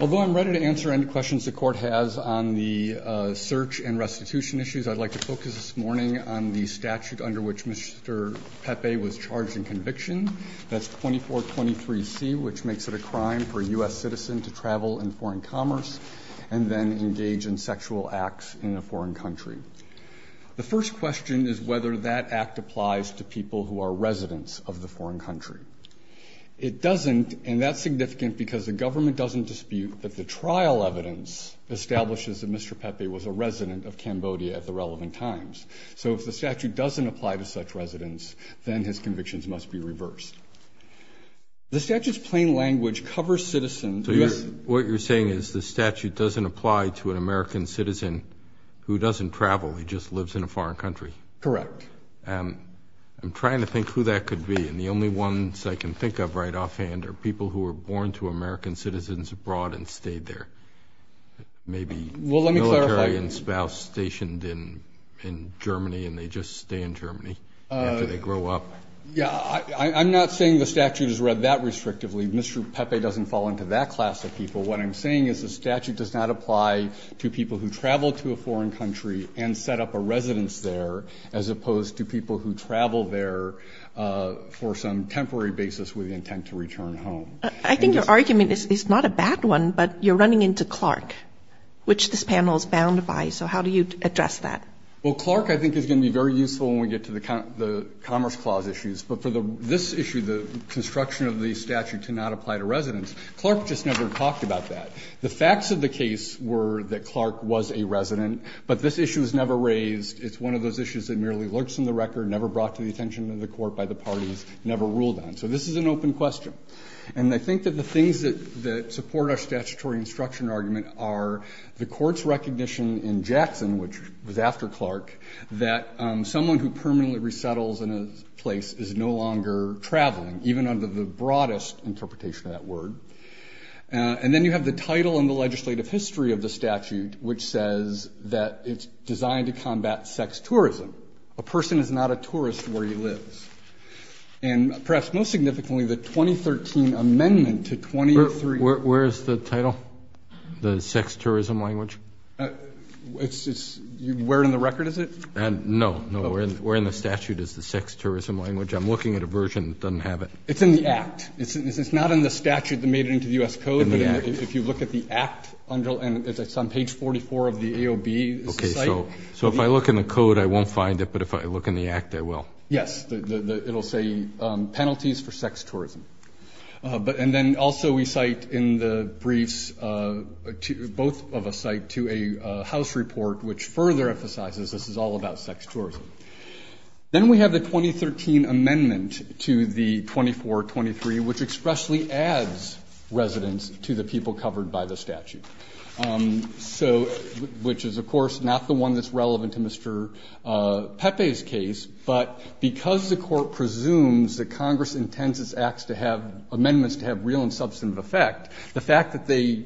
Although I am ready to answer any questions the Court has on the search and restitution issues, I would like to focus this morning on the statute under which Mr. Pepe was charged in conviction, that's 2423C, which makes it a crime for a U.S. citizen to travel in foreign commerce and then engage in sexual acts in a foreign country. The first question is whether that act applies to people who are residents of the foreign country. It doesn't, and that's significant because the government doesn't dispute that the trial evidence establishes that Mr. Pepe was a resident of Cambodia at the relevant times. So if the statute doesn't apply to such residents, then his convictions must be reversed. The statute's plain language covers citizens. Robert R. Reilly So what you're saying is the statute doesn't apply to an American citizen who doesn't travel, he just lives in a foreign country? Michael Pepe Correct. Robert R. Reilly I'm trying to think who that could be, and the only ones I can think of right offhand are people who were born to American citizens abroad and stayed there. Maybe military and spouse stationed in Germany and they just stay in Germany. Michael Pepe Yeah, I'm not saying the statute is read that restrictively. Mr. Pepe doesn't fall into that class of people. What I'm saying is the statute does not apply to people who travel to a foreign country and set up a residence there, as opposed to people who travel there for some temporary basis with the intent to return home. Katherian Roe I think your argument is not a bad one, but you're running into Clark, which this panel is bound by. So how do you address that? Michael Pepe Well, Clark, I think, is going to be very useful when we get to the Commerce Clause issues. But for this issue, the construction of the statute to not apply to residents, Clark just never talked about that. The facts of the case were that Clark was a resident, but this issue was never raised. It's one of those issues that merely lurks in the record, never brought to the attention of the Court by the parties, never ruled on. So this is an open question. And I think that the things that support our statutory instruction argument are the Court's recommendation to Mr. Clark that someone who permanently resettles in a place is no longer traveling, even under the broadest interpretation of that word. And then you have the title and the legislative history of the statute, which says that it's designed to combat sex tourism. A person is not a tourist where he lives. And perhaps most significantly, the 2013 amendment to 2003… Robert R. Reilly Where is the title? The sex tourism language? It's… Where in the record is it? No, no. Where in the statute is the sex tourism language? I'm looking at a version that doesn't have it. It's in the Act. It's not in the statute that made it into the U.S. Code, but if you look at the Act, and it's on page 44 of the AOB, it's the site. So if I look in the code, I won't find it, but if I look in the Act, I will? Yes. It'll say penalties for sex tourism. And then also we cite in the briefs, both of us cite to a House report which further emphasizes this is all about sex tourism. Then we have the 2013 amendment to the 2423, which expressly adds residents to the people covered by the statute. So, which is, of course, not the one that's relevant to Mr. Pepe's case, but because the Court presumes that Congress intends its Acts to have, amendments to have real and substantive effect, the fact that they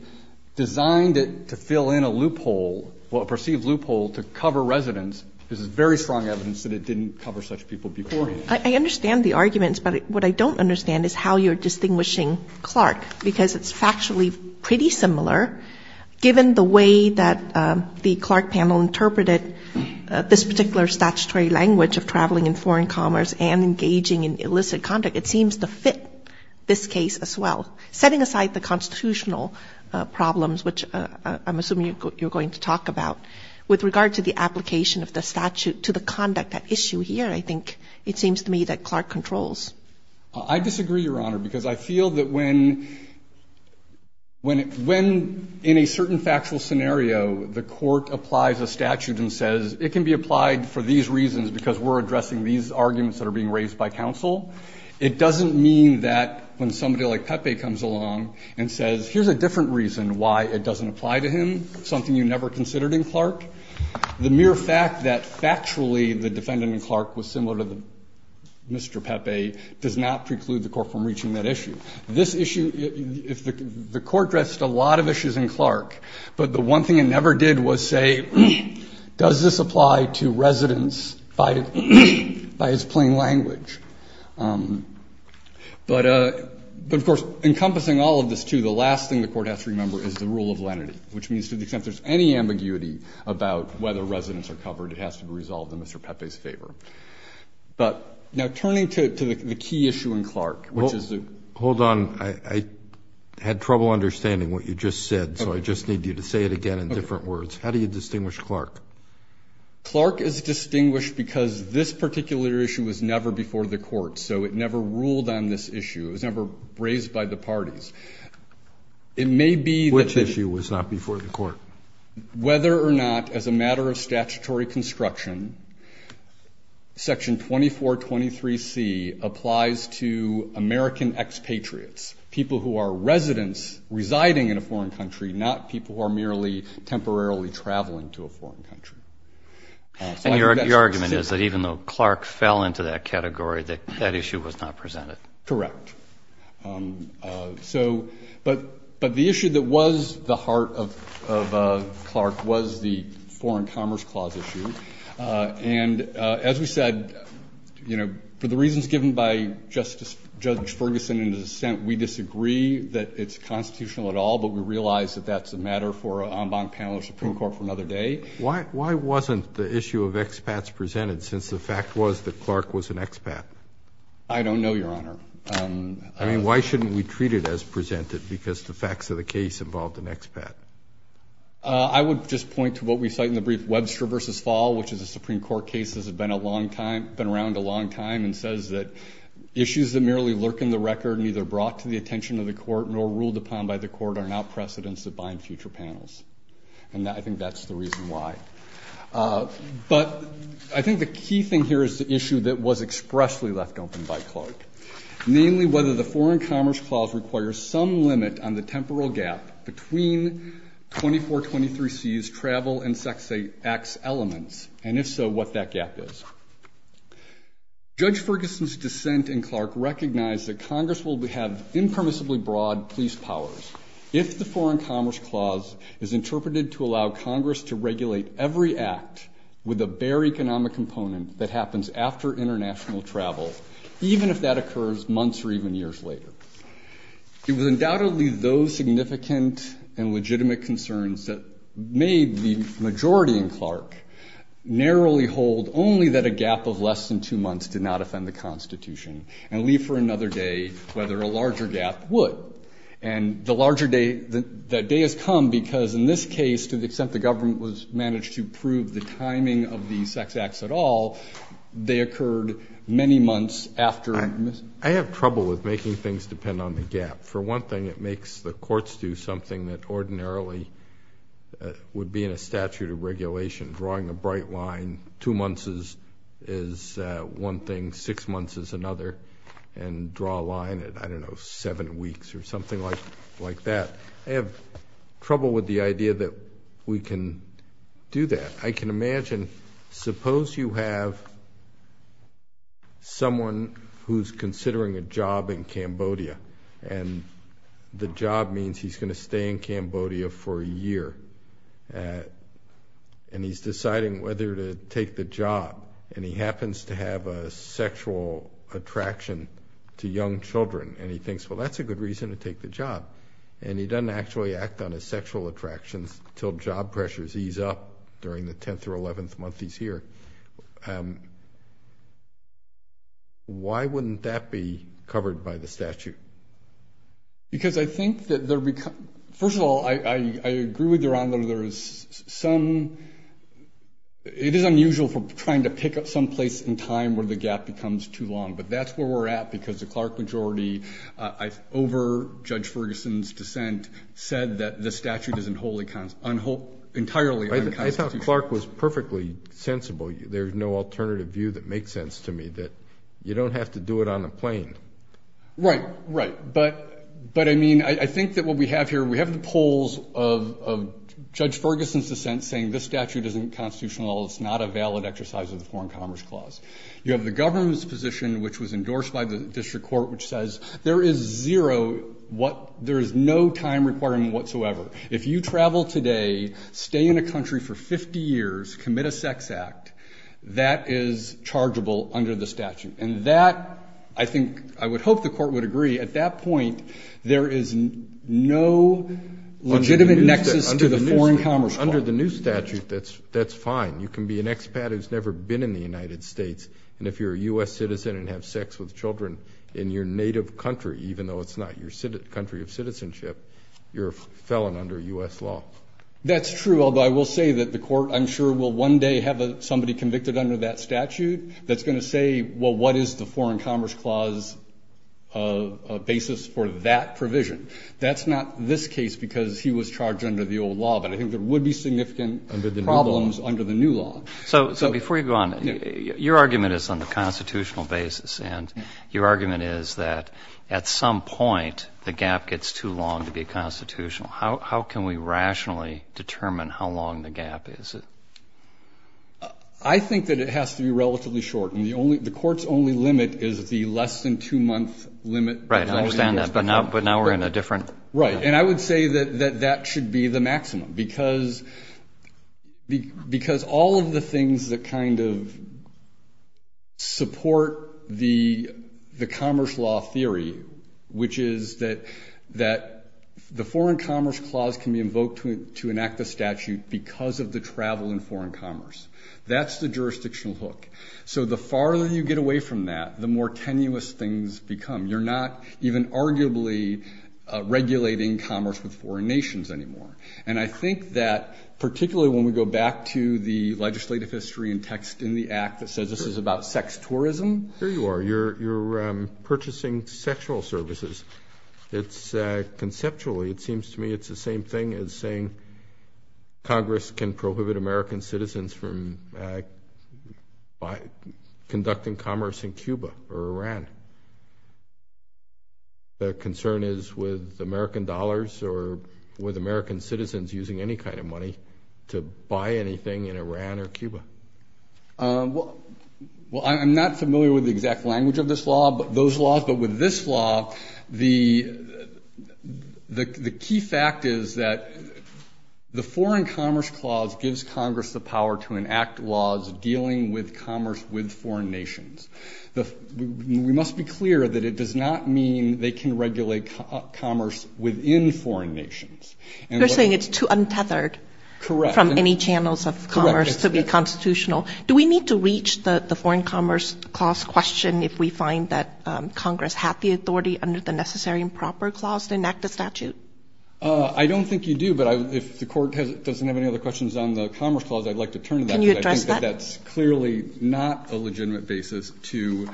designed it to fill in a loophole, well, a perceived loophole to cover residents, is very strong evidence that it didn't cover such people before. I understand the arguments, but what I don't understand is how you're distinguishing Clark, because it's factually pretty similar, given the way that the Clark panel interpreted this particular statutory language of traveling in foreign commerce and engaging in illicit conduct. It seems to fit this case as well. Setting aside the constitutional problems, which I'm assuming you're going to talk about, with regard to the application of the statute to the conduct at issue here, I think it seems to me that Clark controls. I disagree, Your Honor, because I feel that when, when in a certain factual scenario, the Court applies a statute and says it can be applied for these reasons because we're It doesn't mean that when somebody like Pepe comes along and says, here's a different reason why it doesn't apply to him, something you never considered in Clark, the mere fact that factually the defendant in Clark was similar to Mr. Pepe does not preclude the Court from reaching that issue. This issue, if the Court addressed a lot of issues in Clark, but the one thing it never did was say, does this apply to residents by its plain language? But of course, encompassing all of this, too, the last thing the Court has to remember is the rule of lenity, which means to the extent there's any ambiguity about whether residents are covered, it has to be resolved in Mr. Pepe's favor. But now turning to the key issue in Clark, which is the Hold on. I had trouble understanding what you just said, so I just need you to say it again in different words. How do you distinguish Clark? Clark is distinguished because this particular issue was never before the Court, so it never ruled on this issue. It was never raised by the parties. It may be that Which issue was not before the Court? Whether or not, as a matter of statutory construction, Section 2423C applies to American expatriates, people who are residents residing in a foreign country, not people who are merely temporarily traveling to a foreign country. And your argument is that even though Clark fell into that category, that that issue was not presented. Correct. So, but the issue that was the heart of Clark was the Foreign Commerce Clause issue. And as we said, you know, for the reasons given by Justice, Judge Ferguson in his assent, we disagree that it's constitutional at all, but we realize that that's a matter for an hour, for another day. Why wasn't the issue of expats presented, since the fact was that Clark was an expat? I don't know, Your Honor. I mean, why shouldn't we treat it as presented, because the facts of the case involved an expat? I would just point to what we cite in the brief, Webster v. Fall, which is a Supreme Court case that's been a long time, been around a long time, and says that issues that merely lurk in the record, neither brought to the attention of the Court, nor ruled upon by the Court, are not precedents that bind future panels. And I think that's the reason why. But I think the key thing here is the issue that was expressly left open by Clark, namely whether the Foreign Commerce Clause requires some limit on the temporal gap between 2423C's travel and Section 8X elements, and if so, what that gap is. Judge Ferguson's dissent in Clark recognized that Congress will have impermissibly broad police powers if the Foreign Commerce Clause is interpreted to allow Congress to regulate every act with a bare economic component that happens after international travel, even if that occurs months or even years later. It was undoubtedly those significant and legitimate concerns that made the majority in Clark narrowly hold only that a gap of less than two months did not offend the Constitution, and leave for another day whether a larger gap would. And the larger day, the day has come because in this case, to the extent the government was managed to prove the timing of the sex acts at all, they occurred many months after — I have trouble with making things depend on the gap. For one thing, it makes the courts do something that ordinarily would be in a statute of regulation, drawing a bright line, two months is one thing, six months is another, and draw a line at, I don't know, seven weeks or something like that. I have trouble with the idea that we can do that. I can imagine, suppose you have someone who's considering a job in Cambodia, and the job means he's going to stay in Cambodia for a year, and he's deciding whether to take the job, and he happens to have a sexual attraction to young children, and he thinks, well, that's a good reason to take the job. And he doesn't actually act on his sexual attractions until job pressures ease up during the 10th or 11th month he's here. Why wouldn't that be covered by the statute? Because I think that there — first of all, I agree with your honor, there is some — it is unusual for trying to pick up some place in time where the gap becomes too long. But that's where we're at, because the Clark majority, over Judge Ferguson's dissent, said that the statute is entirely unconstitutional. I thought Clark was perfectly sensible. There's no alternative view that makes sense to me, that you don't have to do it on a plane. Right, right. But, I mean, I think that what we have here, we have the polls of Judge Ferguson's dissent saying this statute isn't constitutional, it's not a valid exercise of the Foreign Commerce Clause. You have the government's position, which was endorsed by the district court, which says there is zero — there is no time requirement whatsoever. If you travel today, stay in a country for 50 years, commit a sex act, that is chargeable under the statute. And that, I think — I would hope the court would agree, at that point, there is no legitimate nexus to the Foreign Commerce Clause. Under the new statute, that's fine. You can be an expat who's never been in the United States, and if you're a U.S. citizen and have sex with children in your native country, even though it's not your country of citizenship, you're a felon under U.S. law. That's true, although I will say that the court, I'm sure, will one day have somebody convicted under that statute that's going to say, well, what is the Foreign Commerce Clause basis for that provision? That's not this case, because he was charged under the old law, but I think there would be significant problems under the new law. So before you go on, your argument is on the constitutional basis, and your argument is that at some point, the gap gets too long to be constitutional. How can we rationally determine how long the gap is? I think that it has to be relatively short, and the court's only limit is the less than two-month limit. Right. I understand that. But now we're in a different... Right. And I would say that that should be the maximum, because all of the things that kind of support the commerce law theory, which is that the Foreign Commerce Clause can be invoked to travel in foreign commerce. That's the jurisdictional hook. So the farther you get away from that, the more tenuous things become. You're not even arguably regulating commerce with foreign nations anymore. And I think that, particularly when we go back to the legislative history and text in the Act that says this is about sex tourism... Here you are. You're purchasing sexual services. It's... Conceptually, it seems to me it's the same thing as saying Congress can prohibit American citizens from conducting commerce in Cuba or Iran. The concern is with American dollars or with American citizens using any kind of money to buy anything in Iran or Cuba. Well, I'm not familiar with the exact language of this law, those laws, but with this law, the key fact is that the Foreign Commerce Clause gives Congress the power to enact laws dealing with commerce with foreign nations. We must be clear that it does not mean they can regulate commerce within foreign nations. You're saying it's too untethered from any channels of commerce to be constitutional. Do we need to reach the Foreign Commerce Clause question if we find that Congress had the power under the Necessary and Proper Clause to enact a statute? I don't think you do, but if the Court doesn't have any other questions on the Commerce Clause, I'd like to turn to that. Can you address that? I think that that's clearly not a legitimate basis to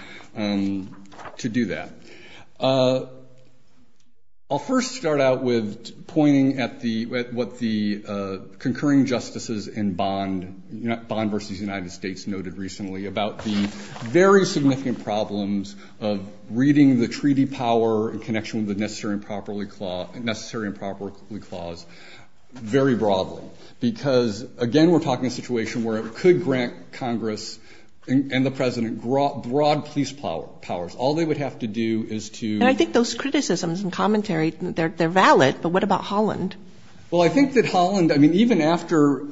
do that. I'll first start out with pointing at what the concurring justices in Bond versus United of reading the treaty power in connection with the Necessary and Proper Clause very broadly, because, again, we're talking a situation where it could grant Congress and the President broad police powers. All they would have to do is to... And I think those criticisms and commentary, they're valid, but what about Holland? Well, I think that Holland, I mean, even after...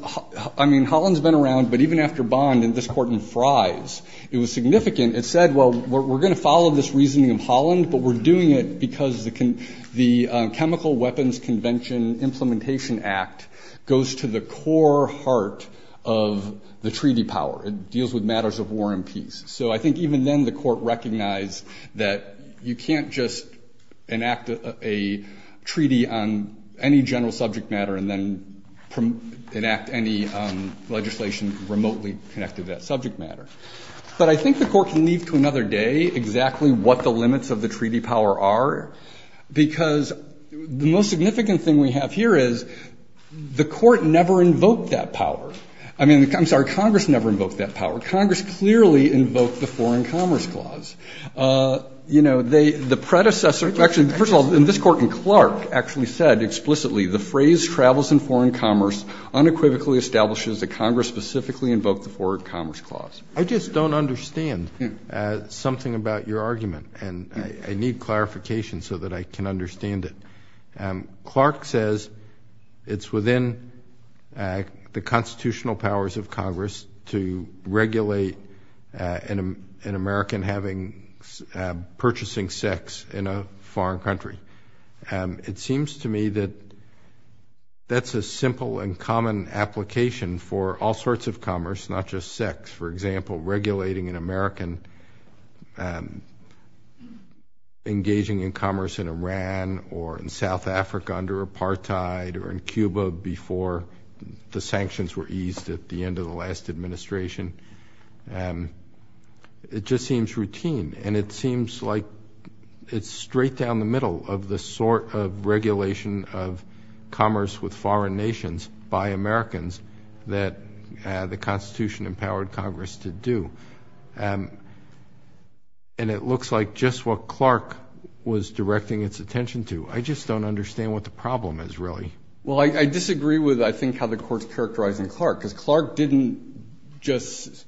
I mean, Holland's been around, but even after Bond and this Court in Fries, it was significant. It said, well, we're going to follow this reasoning of Holland, but we're doing it because the Chemical Weapons Convention Implementation Act goes to the core heart of the treaty power. It deals with matters of war and peace. So I think even then the Court recognized that you can't just enact a treaty on any general subject matter and then enact any legislation remotely connected to that subject matter. But I think the Court can leave to another day exactly what the limits of the treaty power are, because the most significant thing we have here is the Court never invoked that power. I mean, I'm sorry, Congress never invoked that power. Congress clearly invoked the Foreign Commerce Clause. You know, the predecessor, actually, first of all, this Court in Clark actually said explicitly the phrase travels in foreign commerce unequivocally establishes that Congress specifically invoked the Foreign Commerce Clause. I just don't understand something about your argument, and I need clarification so that I can understand it. Clark says it's within the constitutional powers of Congress to regulate an American having, purchasing sex in a foreign country. It seems to me that that's a simple and common application for all sorts of commerce, not just sex. For example, regulating an American engaging in commerce in Iran or in South Africa under apartheid or in Cuba before the sanctions were eased at the end of the last administration. It just seems routine, and it seems like it's straight down the middle of the sort of regulation of commerce with foreign nations by Americans that the Constitution empowered Congress to do. And it looks like just what Clark was directing its attention to. I just don't understand what the problem is, really. Well, I disagree with, I think, how the Court's characterizing Clark, because Clark didn't just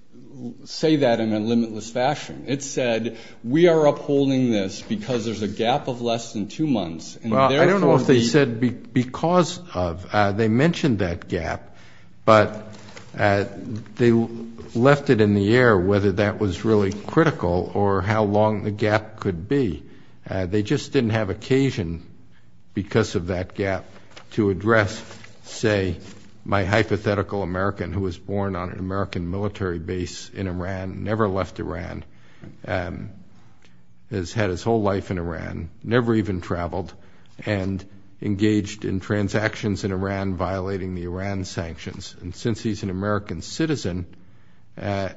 say that in a limitless fashion. It said, we are upholding this because there's a gap of less than two months, and therefore I don't know if they said because of. They mentioned that gap, but they left it in the air whether that was really critical or how long the gap could be. They just didn't have occasion because of that gap to address, say, my hypothetical American who was born on an American military base in Iran, never left Iran, has had his whole life in Iran, never even traveled, and engaged in transactions in Iran violating the Iran sanctions. And since he's an American citizen, I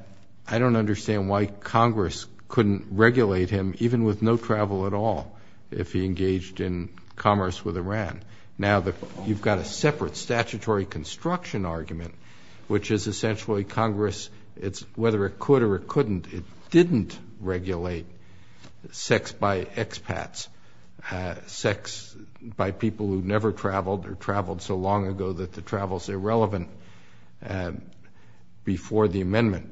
don't understand why Congress couldn't regulate him even with no travel at all if he engaged in commerce with Iran. Now you've got a separate statutory construction argument, which is essentially Congress, whether it could or it couldn't, it didn't regulate sex by expats, sex by people who never traveled or traveled so long ago that the travel's irrelevant before the amendment.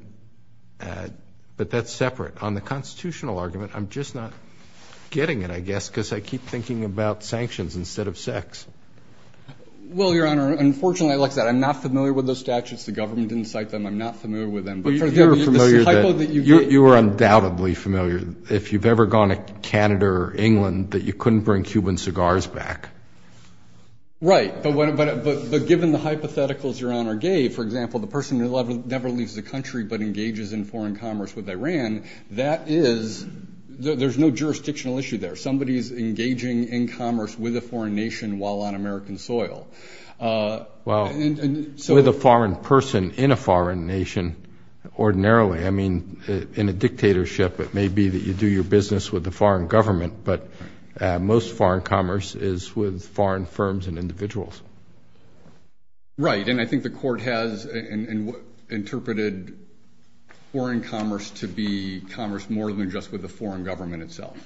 But that's separate. On the constitutional argument, I'm just not getting it, I guess, because I keep thinking about sanctions instead of sex. Well, Your Honor, unfortunately, I'm not familiar with those statutes. The government didn't cite them. I'm not familiar with them. But you're familiar that, you are undoubtedly familiar, if you've ever gone to Canada or England, that you couldn't bring Cuban cigars back. Right, but given the hypotheticals Your Honor gave, for example, the person who never leaves the country but engages in foreign commerce with Iran, that is, there's no jurisdictional issue there. Somebody's engaging in commerce with a foreign nation while on American soil. Well, with a foreign person in a foreign nation, ordinarily, I mean, in a dictatorship, it may be that you do your business with the foreign government, but most foreign commerce is with foreign firms and individuals. Right, and I think the Court has interpreted foreign commerce to be commerce more than just with the foreign government itself.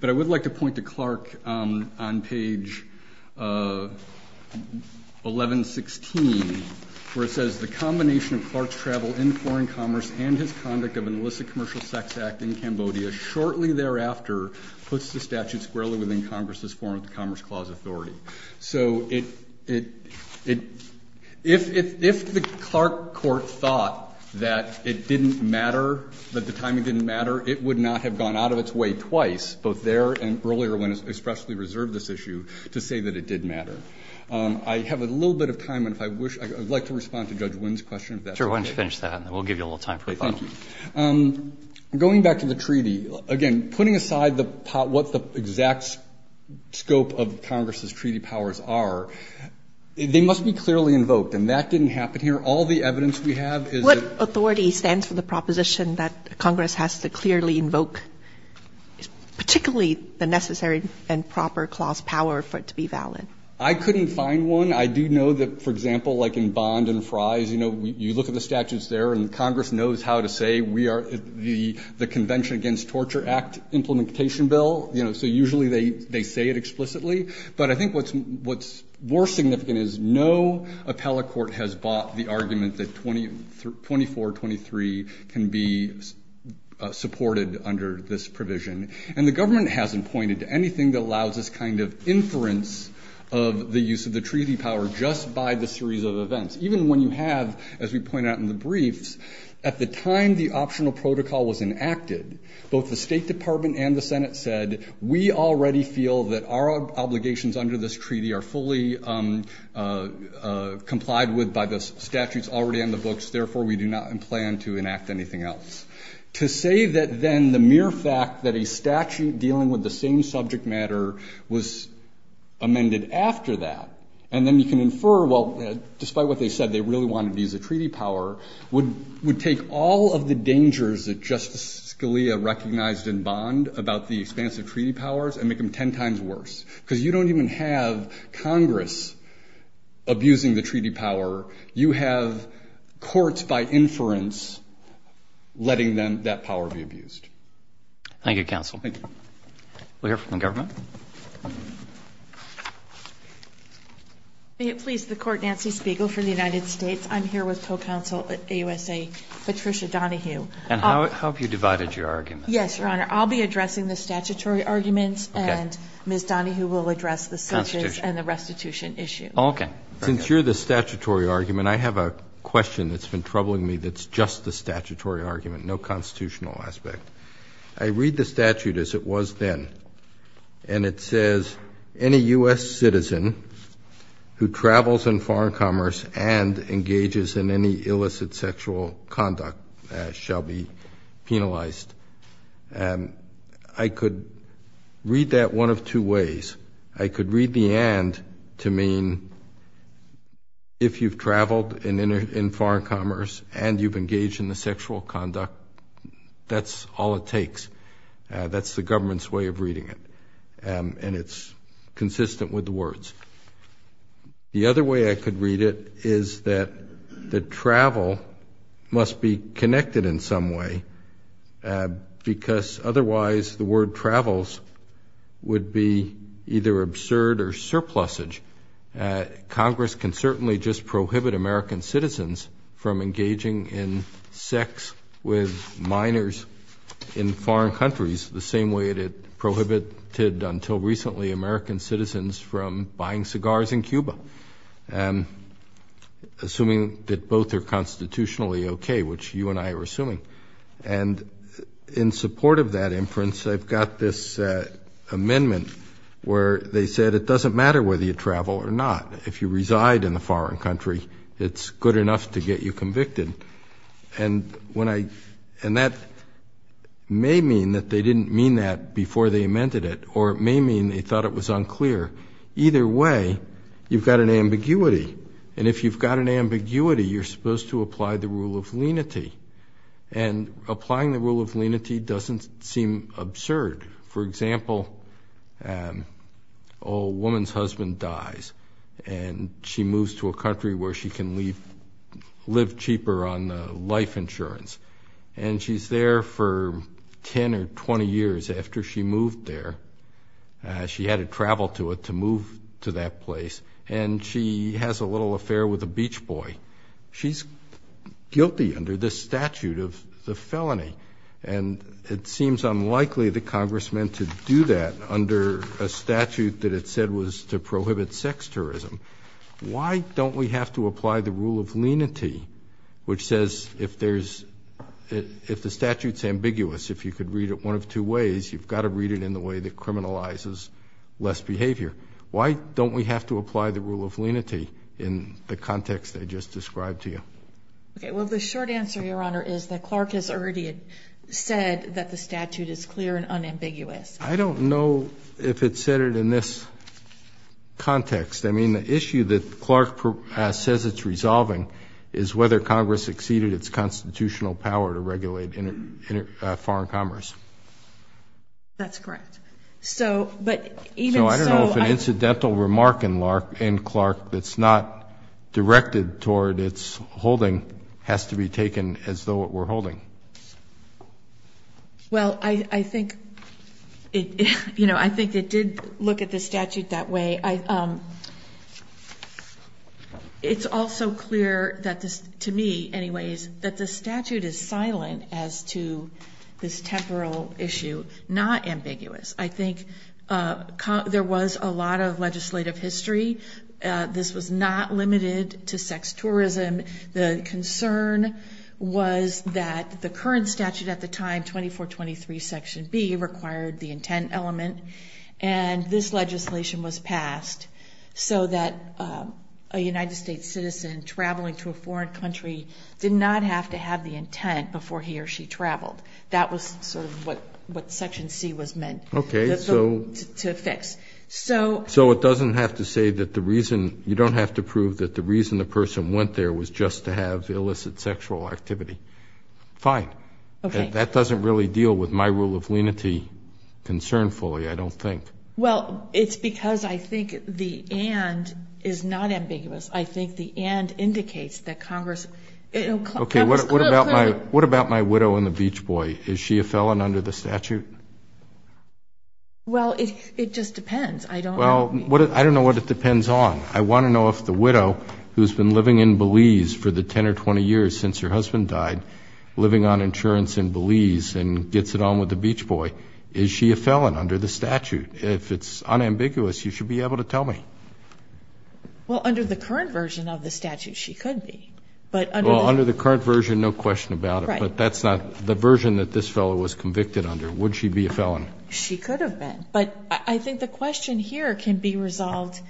But I would like to point to Clark on page 1116, where it says, The combination of Clark's travel in foreign commerce and his conduct of an illicit commercial sex act in Cambodia shortly thereafter puts the statute squarely within Congress's form of the Commerce Clause Authority. So if the Clark Court thought that it didn't matter, that the timing didn't matter, it would not have gone out of its way twice, both there and earlier when it expressly reserved this issue, to say that it did matter. I have a little bit of time, and if I wish, I would like to respond to Judge Wynn's question if that's okay. Sure, why don't you finish that, and then we'll give you a little time, please. Thank you. Going back to the treaty, again, putting aside the pot, what the exact scope of Congress's treaty powers are, they must be clearly invoked, and that didn't happen here. All the evidence we have is that the Clause Authority stands for the proposition that Congress has to clearly invoke, particularly the necessary and proper clause power for it to be valid. I couldn't find one. I do know that, for example, like in Bond and Fries, you know, you look at the statutes there, and Congress knows how to say we are the Convention Against Torture Act Implementation Bill, you know, so usually they say it explicitly. But I think what's more significant is no appellate court has bought the argument that 2423 can be supported under this provision, and the government hasn't pointed to anything that allows this kind of inference of the use of the treaty power just by the series of events. Even when you have, as we pointed out in the briefs, at the time the optional protocol was enacted, both the State Department and the Senate said we already feel that our obligations under this treaty are fully complied with by the statutes already in the books, therefore we do not plan to enact anything else. To say that then the mere fact that a statute dealing with the same subject matter was amended after that, and then you can infer, well, despite what they said, they really wanted to use the treaty power, would take all of the dangers that Justice Scalia recognized in Bond about the expanse of treaty powers and make them ten times worse, because you don't even have Congress abusing the treaty power. You have courts, by inference, letting that power be abused. Thank you, counsel. Thank you. We'll hear from the government. May it please the Court, Nancy Spiegel for the United States. I'm here with co-counsel at AUSA, Patricia Donahue. And how have you divided your arguments? Yes, Your Honor. I'll be addressing the statutory arguments and Ms. Donahue will address the sentences and the restitution issue. Oh, okay. Since you're the statutory argument, I have a question that's been troubling me that's just the statutory argument, no constitutional aspect. I read the statute as it was then, and it says, any U.S. citizen who travels in foreign I could read that one of two ways. I could read the and to mean if you've traveled in foreign commerce and you've engaged in the sexual conduct, that's all it takes. That's the government's way of reading it, and it's consistent with the words. The other way I could read it is that the travel must be connected in some way, because otherwise the word travels would be either absurd or surplusage. Congress can certainly just prohibit American citizens from engaging in sex with minors in foreign countries the same way that it prohibited until recently American citizens from buying cigars in Cuba, assuming that both are constitutionally okay, which you and I are assuming. And in support of that inference, I've got this amendment where they said it doesn't matter whether you travel or not. If you reside in a foreign country, it's good enough to get you convicted. And that may mean that they didn't mean that before they amended it, or it may mean they thought it was unclear. Either way, you've got an ambiguity, and if you've got an ambiguity, you're supposed to And applying the rule of lenity doesn't seem absurd. For example, a woman's husband dies, and she moves to a country where she can live cheaper on life insurance. And she's there for 10 or 20 years after she moved there. She had to travel to it to move to that place, and she has a little affair with a beach boy. She's guilty under this statute of the felony, and it seems unlikely the Congress meant to do that under a statute that it said was to prohibit sex tourism. Why don't we have to apply the rule of lenity, which says if there's, if the statute's ambiguous, if you could read it one of two ways, you've got to read it in the way that criminalizes less behavior. Why don't we have to apply the rule of lenity in the context I just described to you? Okay, well, the short answer, Your Honor, is that Clark has already said that the statute is clear and unambiguous. I don't know if it said it in this context. I mean, the issue that Clark says it's resolving is whether Congress exceeded its constitutional power to regulate foreign commerce. That's correct. So, but even so- So I don't know if an incidental remark in Clark that's not directed toward its holding has to be taken as though it were holding. Well, I think it did look at the statute that way. It's also clear that this, to me anyways, that the statute is silent as to this temporal issue, not ambiguous. I think there was a lot of legislative history. This was not limited to sex tourism. The concern was that the current statute at the time, 2423 section B, required the intent element and this legislation was passed so that a United States citizen traveling to a foreign country did not have to have the intent before he or she traveled. That was sort of what section C was meant to fix. So- So it doesn't have to say that the reason, you don't have to prove that the reason the person went there was just to have illicit sexual activity. Fine. Okay. That doesn't really deal with my rule of lenity concernfully, I don't think. Well, it's because I think the and is not ambiguous. I think the and indicates that Congress- Okay. What about my widow and the beach boy? Is she a felon under the statute? Well, it just depends. I don't- Well, I don't know what it depends on. I want to know if the widow who's been living in Belize for the 10 or 20 years since her husband died, living on insurance in Belize and gets it on with the beach boy, is she a felon under the statute? If it's unambiguous, you should be able to tell me. Well, under the current version of the statute, she could be. Well, under the current version, no question about it, but that's not the version that this fellow was convicted under. Would she be a felon? She could have been. But I think the question here can be resolved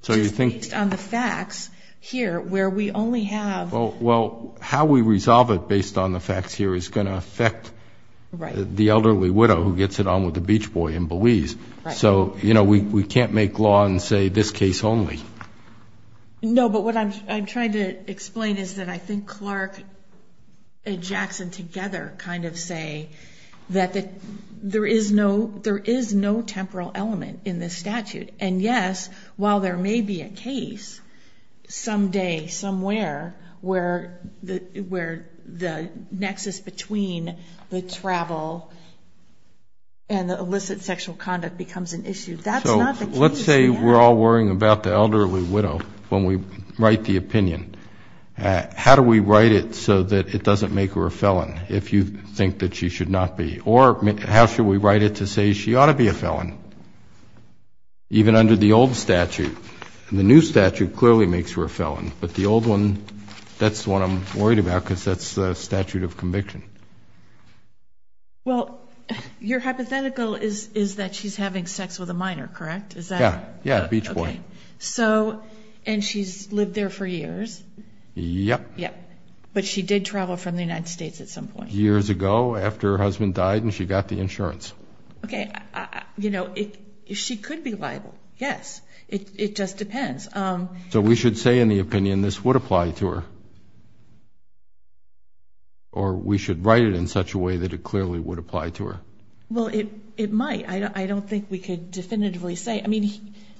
just based on the facts here where we only have- Well, how we resolve it based on the facts here is going to affect the elderly widow who gets it on with the beach boy in Belize. So we can't make law and say this case only. No, but what I'm trying to explain is that I think Clark and Jackson together kind of say that there is no temporal element in this statute. And yes, while there may be a case someday, somewhere, where the nexus between the travel and the illicit sexual conduct becomes an issue, that's not the case. Let's say we're all worrying about the elderly widow when we write the opinion. How do we write it so that it doesn't make her a felon if you think that she should not be? Or how should we write it to say she ought to be a felon? Even under the old statute, the new statute clearly makes her a felon, but the old one, that's what I'm worried about because that's the statute of conviction. Well, your hypothetical is that she's having sex with a minor, correct? Yeah, yeah, beach boy. So, and she's lived there for years? Yep. Yep. But she did travel from the United States at some point. Years ago, after her husband died and she got the insurance. Okay, you know, she could be liable, yes. It just depends. So we should say in the opinion this would apply to her? Or we should write it in such a way that it clearly would apply to her? Well, it might. I don't think we could definitively say. I mean,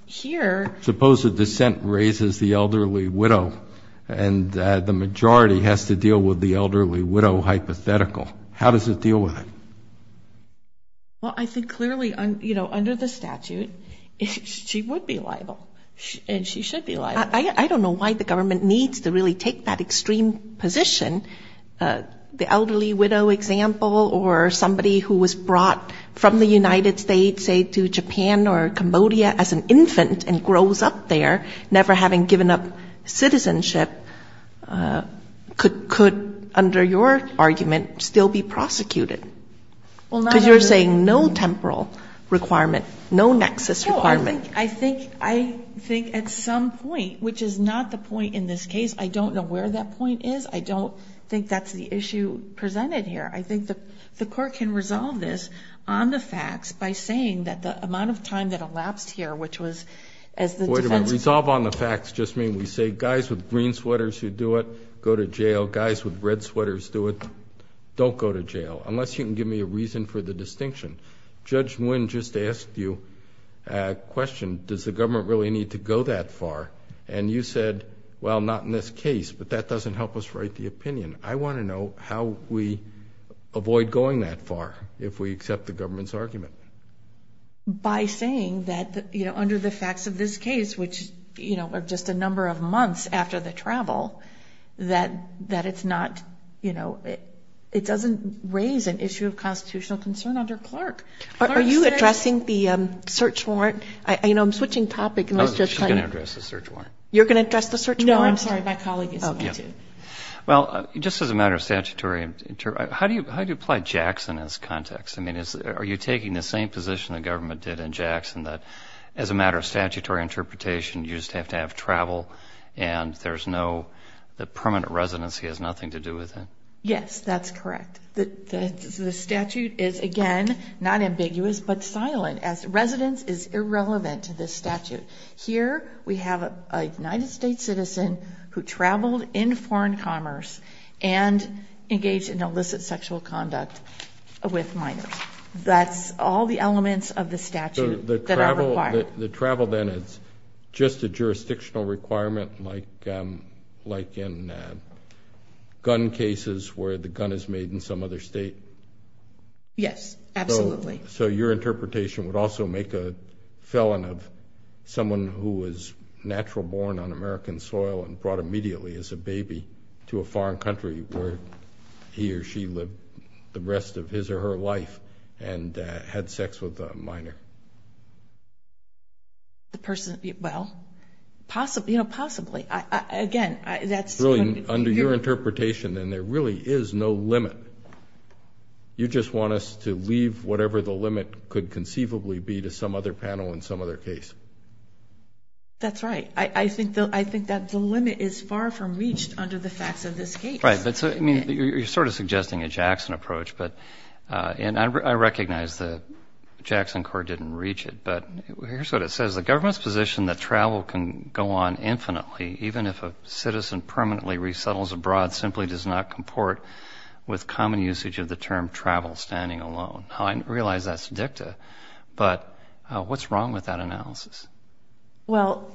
here... Suppose a dissent raises the elderly widow and the majority has to deal with the elderly widow hypothetical. How does it deal with it? Well, I think clearly, you know, under the statute, she would be liable and she should be liable. I don't know why the government needs to really take that extreme position. The elderly widow example, or somebody who was brought from the United States, say to Japan or Cambodia as an infant and grows up there, never having given up citizenship, could under your argument still be prosecuted? Because you're saying no temporal requirement, no nexus requirement. I think at some point, which is not the point in this case, I don't know where that point is. I don't think that's the issue presented here. I think the court can resolve this on the facts by saying that the amount of time that elapsed here, which was as the defense... Wait a minute. Resolve on the facts just mean we say guys with green sweaters who do it, go to jail. Guys with red sweaters do it, don't go to jail, unless you can give me a reason for the distinction. Judge Nguyen just asked you a question, does the government really need to go that far? And you said, well, not in this case, but that doesn't help us write the opinion. I want to know how we avoid going that far, if we accept the government's argument. By saying that under the facts of this case, which are just a number of months after the travel, that it's not... It doesn't raise an issue of constitutional concern under Clark. Are you addressing the search warrant? I'm switching topic and let's just... I'm going to address the search warrant. You're going to address the search warrant? No, I'm sorry. My colleague is going to. Okay. Well, just as a matter of statutory... How do you apply Jackson as context? Are you taking the same position the government did in Jackson, that as a matter of statutory interpretation, you just have to have travel and there's no... The permanent residency has nothing to do with it? Yes, that's correct. The statute is, again, not ambiguous, but silent. Residence is irrelevant to this statute. Here, we have a United States citizen who traveled in foreign commerce and engaged in illicit sexual conduct with minors. That's all the elements of the statute that are required. The travel then is just a jurisdictional requirement, like in gun cases where the gun is made in some other state? Yes, absolutely. Your interpretation would also make a felon of someone who was natural born on American soil and brought immediately as a baby to a foreign country where he or she lived the rest of his or her life and had sex with a minor? The person... Well, possibly. Again, that's... Brilliant. Under your interpretation, then, there really is no limit. You just want us to leave whatever the limit could conceivably be to some other panel in some other case? That's right. I think that the limit is far from reached under the facts of this case. Right. You're sort of suggesting a Jackson approach, but I recognize that Jackson Court didn't reach it, but here's what it says. The government's position that travel can go on infinitely, even if a citizen permanently resettles abroad simply does not comport with common usage of the term travel standing alone. Now, I realize that's dicta, but what's wrong with that analysis? Well,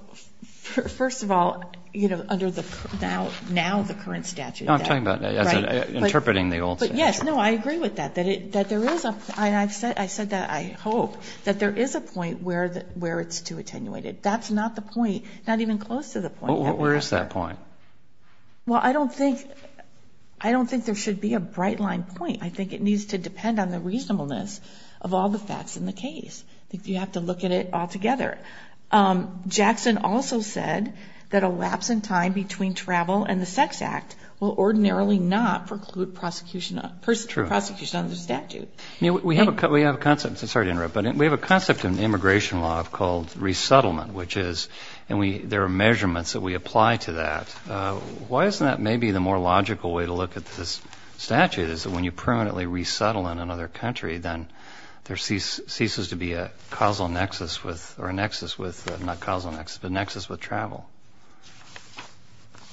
first of all, you know, under the... Now the current statute. No, I'm talking about interpreting the old statute. But yes, no, I agree with that, that there is a... I said that, I hope, that there is a point where it's too attenuated. That's not the point, not even close to the point. Where is that point? Well, I don't think, I don't think there should be a bright line point. I think it needs to depend on the reasonableness of all the facts in the case. I think you have to look at it all together. Jackson also said that a lapse in time between travel and the Sex Act will ordinarily not preclude prosecution under the statute. We have a concept, I'm sorry to interrupt, but we have a concept in immigration law called resettlement, which is, and there are measurements that we apply to that. Why isn't that maybe the more logical way to look at this statute, is that when you permanently resettle in another country, then there ceases to be a causal nexus with, or a nexus with, not a causal nexus, but a nexus with travel?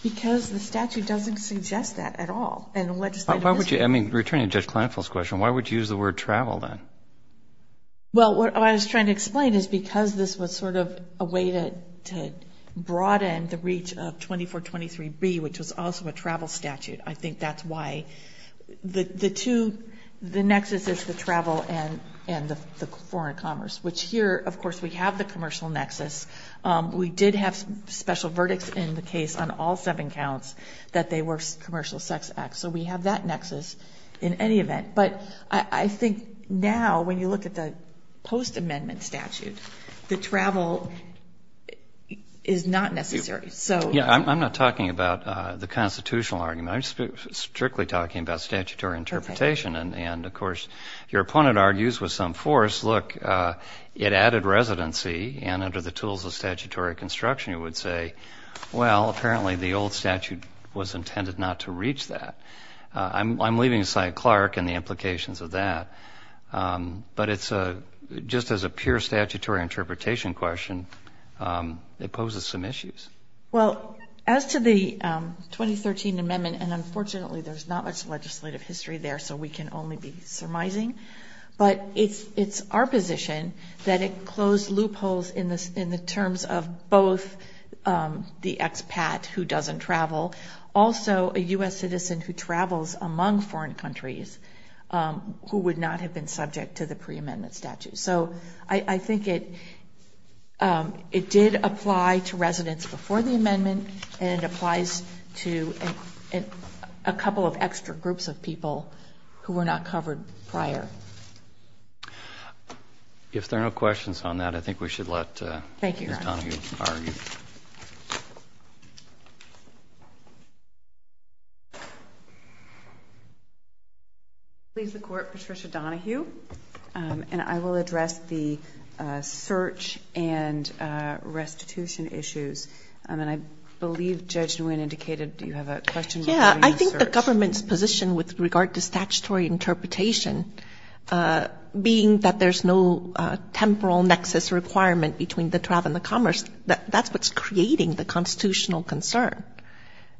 Because the statute doesn't suggest that at all in legislative history. Why would you, I mean, returning to Judge Kleinfeld's question, why would you use the word travel then? Well, what I was trying to explain is because this was sort of a way to broaden the reach of 2423B, which was also a travel statute, I think that's why. The two, the nexus is the travel and the foreign commerce, which here, of course, we have the commercial nexus. We did have special verdicts in the case on all seven counts that they were commercial sex acts. So we have that nexus in any event. But I think now, when you look at the post-amendment statute, the travel is not necessary. So... Yeah, I'm not talking about the constitutional argument, I'm strictly talking about statutory interpretation. And, of course, your opponent argues with some force, look, it added residency and under the tools of statutory construction, you would say, well, apparently the old statute was intended not to reach that. I'm leaving aside Clark and the implications of that. But it's a, just as a pure statutory interpretation question, it poses some issues. Well, as to the 2013 amendment, and unfortunately there's not much legislative history there, so we can only be surmising, but it's our position that it closed loopholes in the terms of both the expat who doesn't travel, also a U.S. citizen who travels among foreign countries who would not have been subject to the pre-amendment statute. So I think it did apply to residents before the amendment and it applies to a couple of extra groups of people who were not covered prior. If there are no questions on that, I think we should let Ms. Donohue argue. Thank you, Your Honor. I will leave the Court, Patricia Donohue, and I will address the search and restitution issues. And I believe Judge Nguyen indicated you have a question regarding the search. with regard to statutory interpretation, being that there's no temporal nexus requirement between the travel and the commerce, that's what's creating the constitutional concern,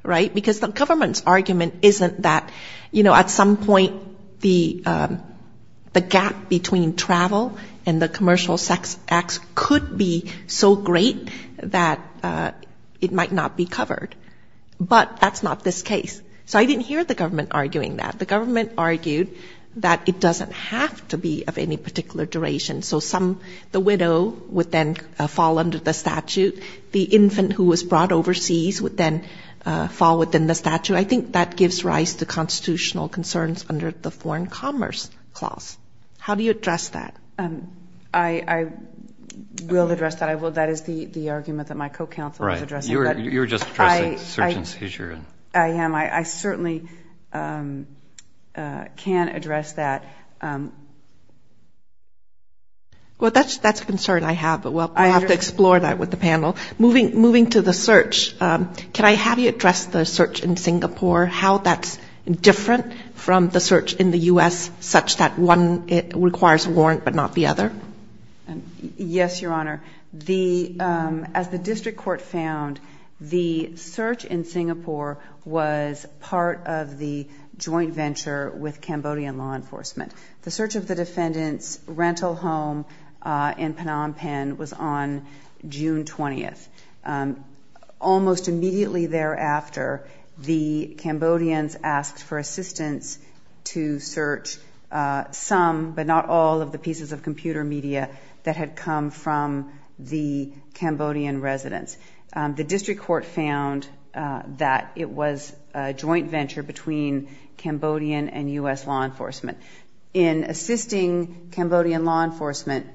right? Because the government's argument isn't that, you know, at some point the gap between travel and the commercial sex acts could be so great that it might not be covered. But that's not this case. So I didn't hear the government arguing that. The government argued that it doesn't have to be of any particular duration. So the widow would then fall under the statute. The infant who was brought overseas would then fall within the statute. I think that gives rise to constitutional concerns under the foreign commerce clause. How do you address that? I will address that. That is the argument that my co-counsel is addressing. You're just addressing search and seizure. I am. I certainly can address that. Well, that's a concern I have, but we'll have to explore that with the panel. Moving to the search, can I have you address the search in Singapore, how that's different from the search in the U.S. such that one requires a warrant but not the other? Yes, Your Honor. As the district court found, the search in Singapore was part of the joint venture with Cambodian law enforcement. The search of the defendant's rental home in Phnom Penh was on June 20th. Almost immediately thereafter, the Cambodians asked for assistance to search some, but not all, of the pieces of computer media that had come from the Cambodian residents. The district court found that it was a joint venture between Cambodian and U.S. law enforcement. In assisting Cambodian law enforcement,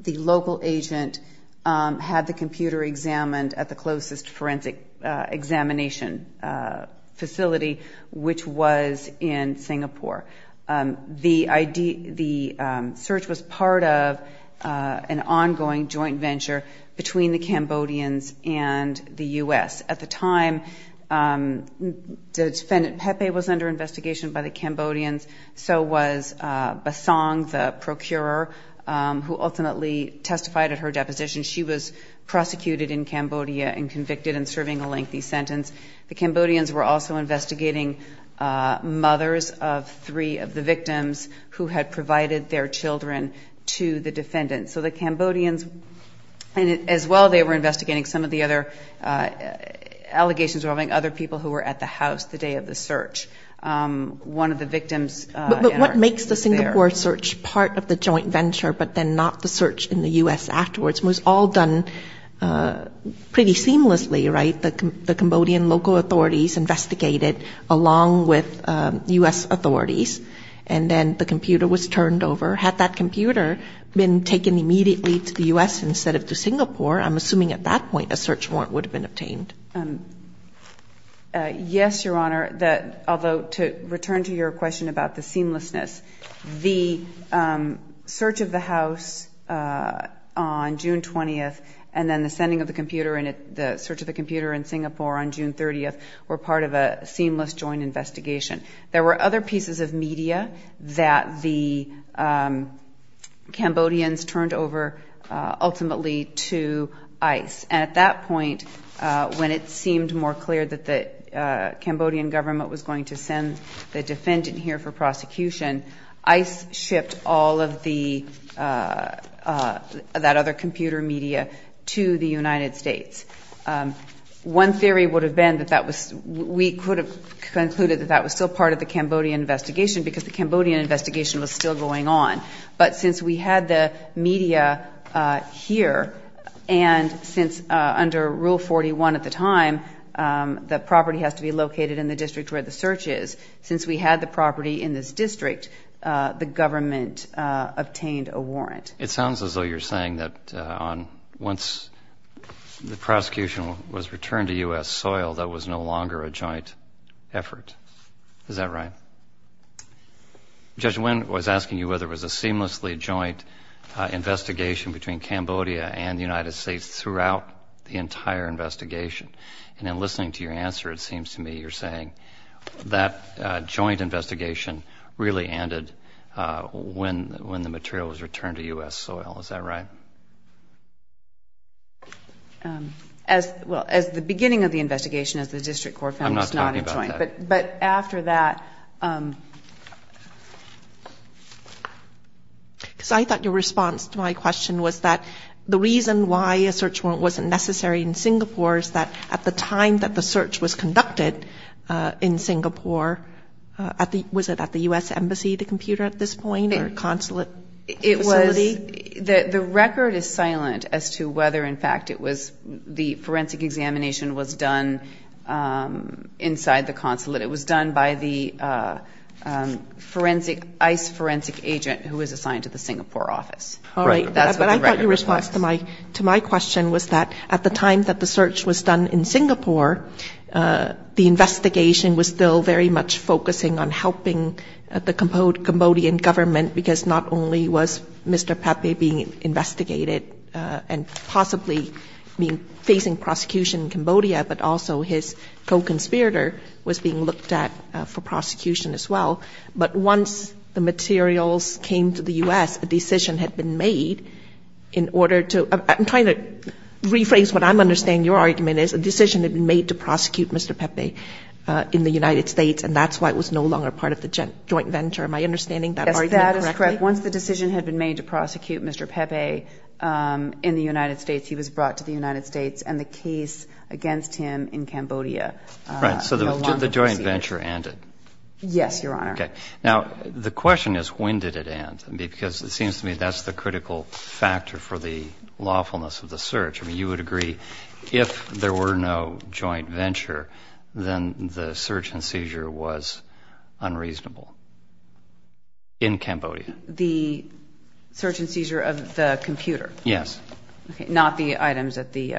the local agent had the computer examined at the closest forensic examination facility, which was in Singapore. The search was part of an ongoing joint venture between the Cambodians and the U.S. At the time, the defendant Pepe was under investigation by the Cambodians, so was Basong, the procurer, who ultimately testified at her deposition. She was prosecuted in Cambodia and convicted in serving a lengthy sentence. The Cambodians were also investigating mothers of three of the victims who had provided their children to the defendants. So the Cambodians, as well, they were investigating some of the other allegations involving other people who were at the house the day of the search. One of the victims... But what makes the Singapore search part of the joint venture, but then not the search in the U.S. afterwards? It was all done pretty seamlessly, right? The Cambodian local authorities investigated along with U.S. authorities, and then the computer was turned over. Had that computer been taken immediately to the U.S. instead of to Singapore, I'm assuming at that point, a search warrant would have been obtained. Yes, Your Honor, although to return to your question about the seamlessness, the search of the house on June 20th and then the sending of the computer and the search of the computer in Singapore on June 30th were part of a seamless joint investigation. There were other pieces of media that the Cambodians turned over, ultimately, to ICE. At that point, when it seemed more clear that the Cambodian government was going to send the defendant here for prosecution, ICE shipped all of that other computer media to the United States. One theory would have been that we could have concluded that that was still part of the Cambodian investigation because the Cambodian investigation was still going on. But since we had the media here, and since under Rule 41 at the time, the property has to be located in the district where the search is, since we had the property in this district, the government obtained a warrant. It sounds as though you're saying that once the prosecution was returned to U.S. soil, that was no longer a joint effort. Is that right? Judge Nguyen was asking you whether it was a seamlessly joint investigation between Cambodia and the United States throughout the entire investigation. And in listening to your answer, it seems to me you're saying that joint investigation really ended when the material was returned to U.S. soil. Is that right? Well, as the beginning of the investigation, as the district court found it was not a joint. But after that... Because I thought your response to my question was that the reason why a search warrant wasn't necessary in Singapore is that at the time that the search was conducted in Singapore, was it at the U.S. Embassy, the computer at this point, or consulate facility? The record is silent as to whether, in fact, it was the forensic examination was done inside the consulate. It was done by the ICE forensic agent who was assigned to the Singapore office. All right. But I thought your response to my question was that at the time that the search was done in Singapore, the investigation was still very much focusing on helping the Cambodian government because not only was Mr. Pape being investigated and possibly facing prosecution in Cambodia, but also his co-conspirator was being looked at for prosecution as well. But once the materials came to the U.S., a decision had been made in order to – I'm trying to rephrase what I'm understanding your argument is, a decision had been made to prosecute Mr. Pape in the United States, and that's why it was no longer part of the joint venture. Am I understanding that argument correctly? Yes. That is correct. Once the decision had been made to prosecute Mr. Pape in the United States, he was brought to the United States, and the case against him in Cambodia no longer existed. Right. So the joint venture ended. Yes, Your Honor. Okay. Now, the question is, when did it end? I mean, because it seems to me that's the critical factor for the lawfulness of the search. I mean, you would agree if there were no joint venture, then the search and seizure was unreasonable in Cambodia. The search and seizure of the computer? Yes. Okay. Not the items at the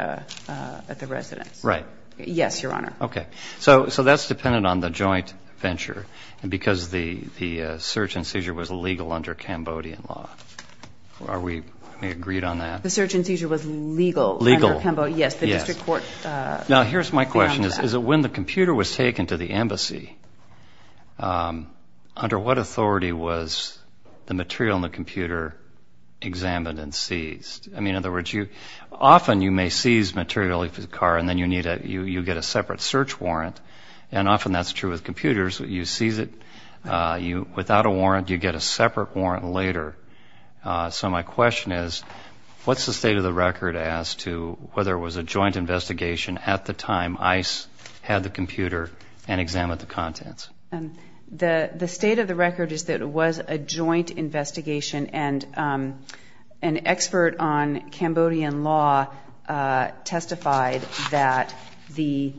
residence? Right. Okay. Yes, Your Honor. Okay. So that's dependent on the joint venture, and because the search and seizure was legal under Cambodian law. Are we agreed on that? The search and seizure was legal under Cambodia? Legal. Yes. The district court found that. Now, here's my question. Is it when the computer was taken to the embassy, under what authority was the material in the computer examined and seized? I mean, in other words, often you may seize material for the car, and then you get a separate search warrant, and often that's true with computers. You seize it without a warrant, you get a separate warrant later. So my question is, what's the state of the record as to whether it was a joint investigation at the time ICE had the computer and examined the contents? The state of the record is that it was a joint investigation, and an expert on Cambodian law testified that the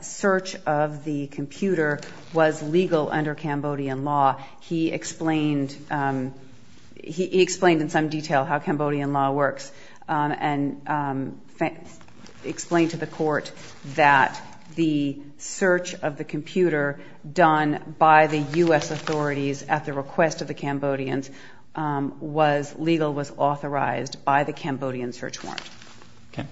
search of the computer was legal under Cambodian law. He explained in some detail how Cambodian law works, and explained to the court that the search of the computer done by the U.S. authorities at the request of the Cambodians was legal, was authorized by the Cambodian search warrant. Okay.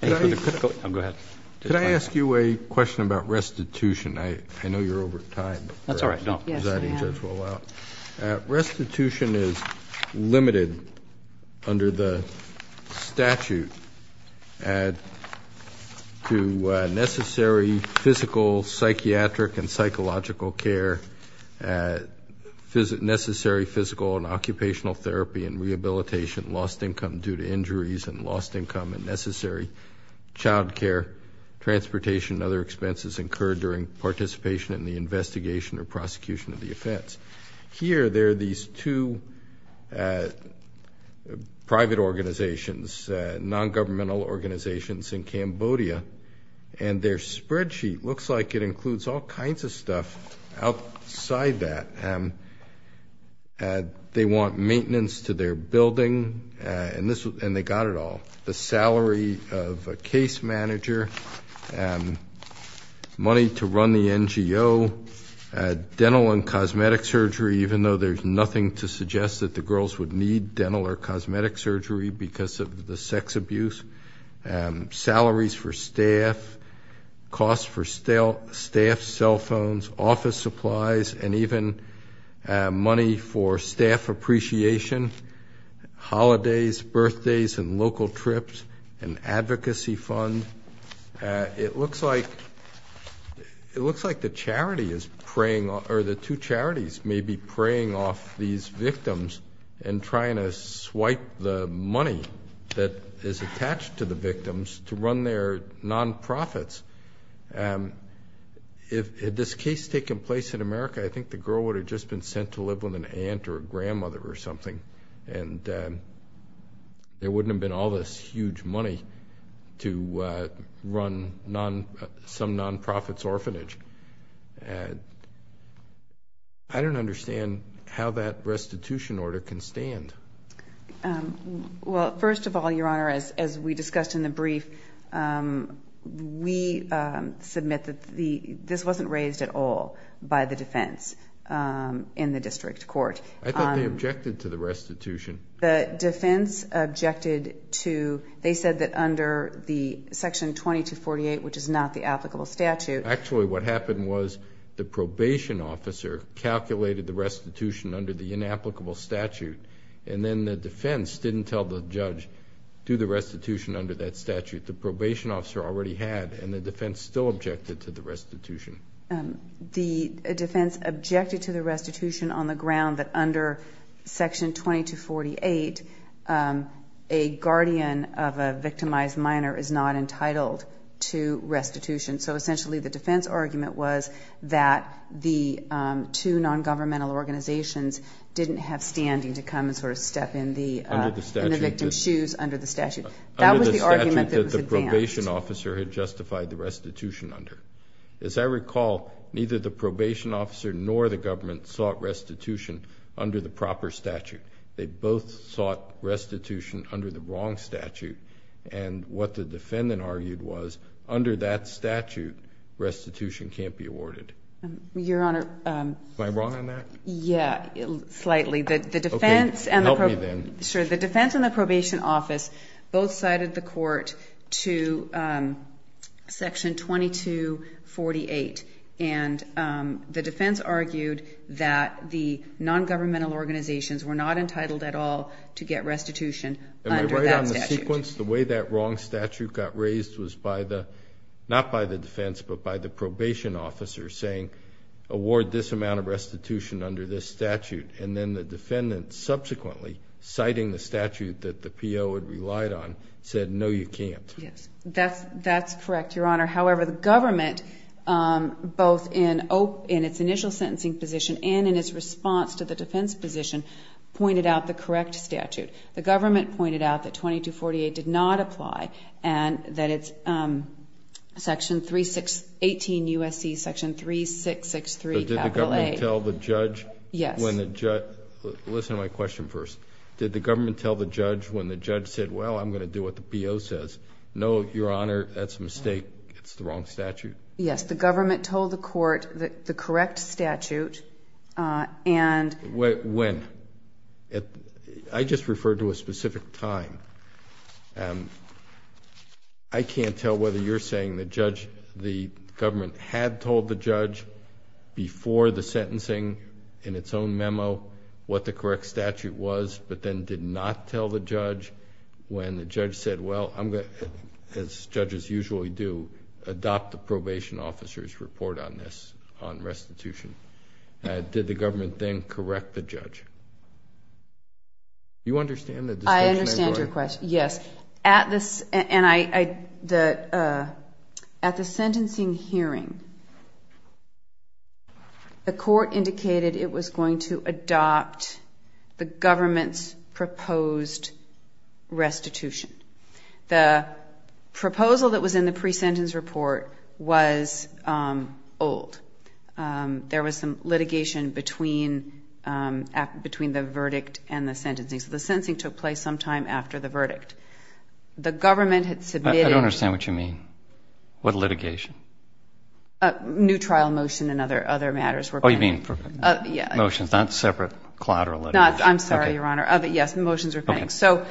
Thank you for the critical— Go ahead. Could I ask you a question about restitution? I know you're over time. That's all right. No. Yes, go ahead. The presiding judge will allow it. Restitution is limited under the statute to necessary physical, psychiatric, and psychological care, necessary physical and occupational therapy and rehabilitation, lost income due to injuries and lost income, and necessary child care, transportation, and other expenses incurred during participation in the investigation or prosecution of the offense. Here there are these two private organizations, non-governmental organizations in Cambodia, and their spreadsheet looks like it includes all kinds of stuff outside that. They want maintenance to their building, and they got it all. The salary of a case manager, money to run the NGO, dental and cosmetic surgery, even though there's nothing to suggest that the girls would need dental or cosmetic surgery because of the sex abuse, salaries for staff, costs for staff, cell phones, office supplies, and even money for staff appreciation, holidays, birthdays, and local trips, an advocacy fund. It looks like the charity is preying—or the two charities may be preying off these money that is attached to the victims to run their non-profits. If this case had taken place in America, I think the girl would have just been sent to live with an aunt or a grandmother or something, and there wouldn't have been all this huge money to run some non-profits orphanage. I don't understand how that restitution order can stand. Well, first of all, Your Honor, as we discussed in the brief, we submit that this wasn't raised at all by the defense in the district court. I thought they objected to the restitution. The defense objected to—they said that under the section 2248, which is not the applicable statute— Actually, what happened was the probation officer calculated the restitution under the And then the defense didn't tell the judge to do the restitution under that statute. The probation officer already had, and the defense still objected to the restitution. The defense objected to the restitution on the ground that under section 2248, a guardian of a victimized minor is not entitled to restitution. So essentially, the defense argument was that the two non-governmental organizations didn't have standing to come and sort of step in the victim's shoes under the statute. That was the argument that was advanced. Under the statute that the probation officer had justified the restitution under. As I recall, neither the probation officer nor the government sought restitution under the proper statute. They both sought restitution under the wrong statute, and what the defendant argued was under that statute, restitution can't be awarded. Your Honor— Am I wrong on that? Yeah, slightly. The defense— Okay. Help me then. Sure. The defense and the probation office both cited the court to section 2248, and the defense argued that the non-governmental organizations were not entitled at all to get restitution under that statute. Am I right on the sequence? The way that wrong statute got raised was by the, not by the defense, but by the probation officer saying, award this amount of restitution under this statute, and then the defendant subsequently citing the statute that the PO had relied on said, no, you can't. Yes. That's correct, Your Honor. However, the government, both in its initial sentencing position and in its response to the defense position, pointed out the correct statute. The government pointed out that 2248 did not apply, and that it's section 316, 18 U.S.C., section 3663, capital A. But did the government tell the judge when the judge— Yes. Listen to my question first. Did the government tell the judge when the judge said, well, I'm going to do what the PO says, no, Your Honor, that's a mistake, it's the wrong statute? Yes. The government told the court the correct statute, and— When? I just referred to a specific time. I can't tell whether you're saying the government had told the judge before the sentencing in its own memo what the correct statute was, but then did not tell the judge when the judge said, well, I'm going to, as judges usually do, adopt the probation officer's report on this, on restitution. Did the government then correct the judge? You understand the distinction? I understand your question, yes. At the—and I—at the sentencing hearing, the court indicated it was going to adopt the government's proposed restitution. The proposal that was in the pre-sentence report was old. There was some litigation between—between the verdict and the sentencing, so the sentencing took place sometime after the verdict. The government had submitted— I don't understand what you mean. What litigation? New trial motion and other matters were pending. Oh, you mean motions, not separate collateral litigation? Not—I'm sorry, Your Honor. Okay. Yes, motions were pending. Okay. So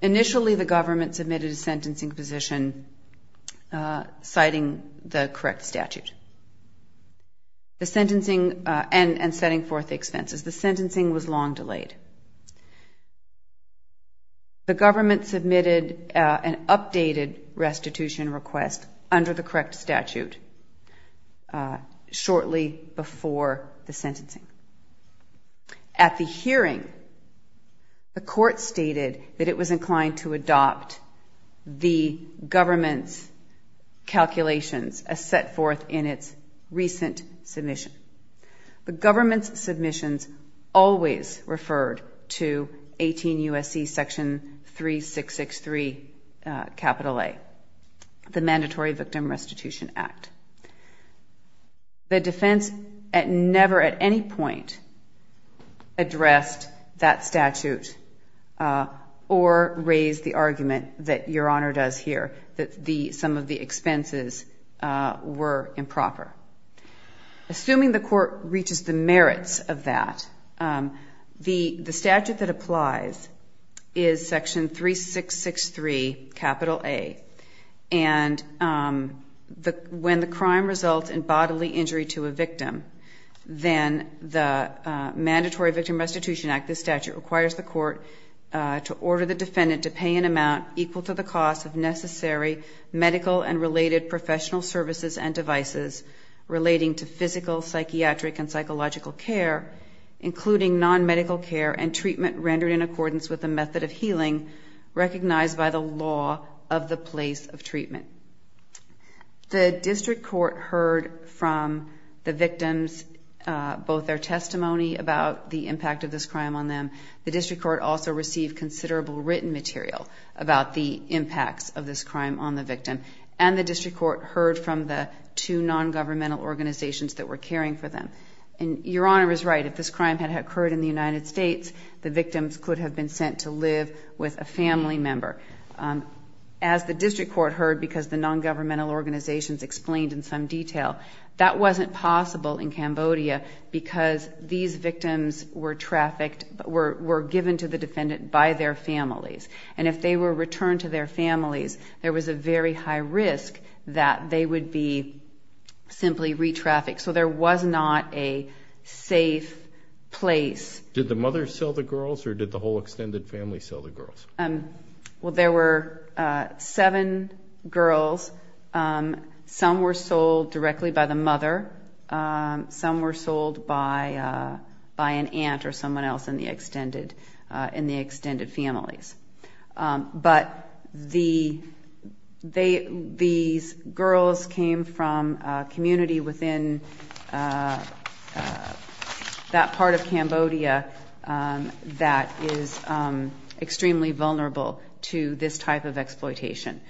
initially, the government submitted a sentencing position citing the correct statute, the sentencing and setting forth the expenses. The sentencing was long delayed. The government submitted an updated restitution request under the correct statute shortly before the sentencing. At the hearing, the court stated that it was inclined to adopt the government's calculations as set forth in its recent submission. The government's submissions always referred to 18 U.S.C. section 3663 capital A, the Mandatory Victim Restitution Act. The defense never at any point addressed that statute or raised the argument that Your Honor does here, that some of the expenses were improper. Assuming the court reaches the merits of that, the statute that applies is section 3663 capital A. And when the crime results in bodily injury to a victim, then the Mandatory Victim Restitution Act, this statute, requires the court to order the defendant to pay an amount equal to the cost of necessary medical and related professional services and devices relating to physical, psychiatric, and psychological care, including non-medical care and treatment rendered in of the place of treatment. The district court heard from the victims both their testimony about the impact of this crime on them. The district court also received considerable written material about the impacts of this crime on the victim. And the district court heard from the two non-governmental organizations that were caring for them. And Your Honor is right. If this crime had occurred in the United States, the victims could have been sent to live with a family member. As the district court heard, because the non-governmental organizations explained in some detail, that wasn't possible in Cambodia because these victims were trafficked, were given to the defendant by their families. And if they were returned to their families, there was a very high risk that they would be simply re-trafficked. So there was not a safe place. Did the mother sell the girls or did the whole extended family sell the girls? Well there were seven girls. Some were sold directly by the mother. Some were sold by an aunt or someone else in the extended families. But these girls came from a community within that part of Cambodia that is extremely vulnerable to this type of exploitation.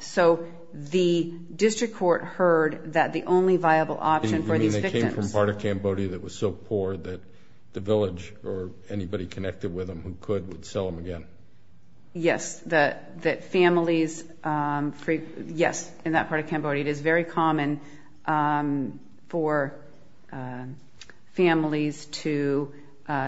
So the district court heard that the only viable option for these victims... You mean they came from a part of Cambodia that was so poor that the village or anybody connected with them who could would sell them again? Yes. That families... Yes, in that part of Cambodia it is very common for families to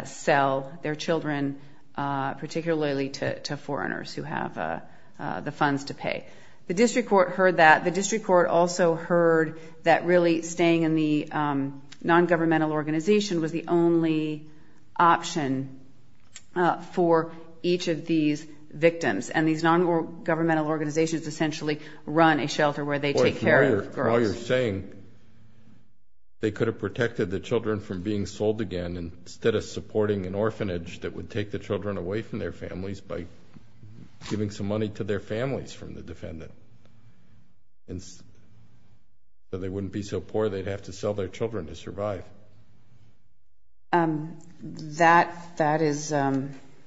sell their children, particularly to foreigners who have the funds to pay. The district court heard that. The district court also heard that really staying in the non-governmental organization was the only option for each of these victims. And these non-governmental organizations essentially run a shelter where they take care of girls. All you're saying, they could have protected the children from being sold again instead of supporting an orphanage that would take the children away from their families by giving some money to their families from the defendant so they wouldn't be so poor they'd have to That is aspirational.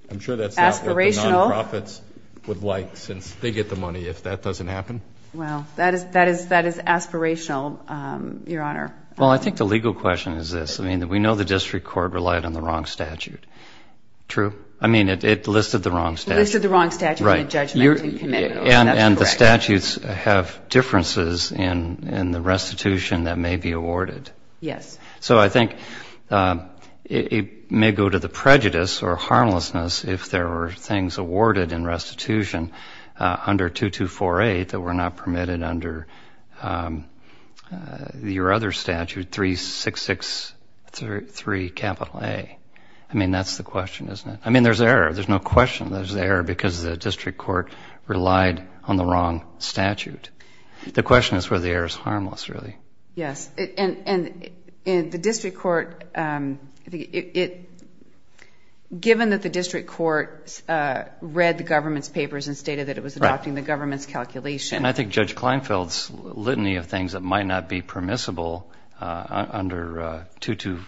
I'm sure that's not what the non-profits would like since they get the money if that doesn't happen. Well, that is aspirational, Your Honor. Well, I think the legal question is this. I mean, we know the district court relied on the wrong statute. True? I mean, it listed the wrong statute. It listed the wrong statute in the Judgment Committee. And the statutes have differences in the restitution that may be awarded. Yes. So I think it may go to the prejudice or harmlessness if there were things awarded in restitution under 2248 that were not permitted under your other statute, 3663 A. I mean, that's the question, isn't it? I mean, there's error. There's no question there's error because the district court relied on the wrong statute. The question is whether the error is harmless, really. Yes. And the district court, given that the district court read the government's papers and stated that it was adopting the government's calculation. And I think Judge Kleinfeld's litany of things that might not be permissible under 22,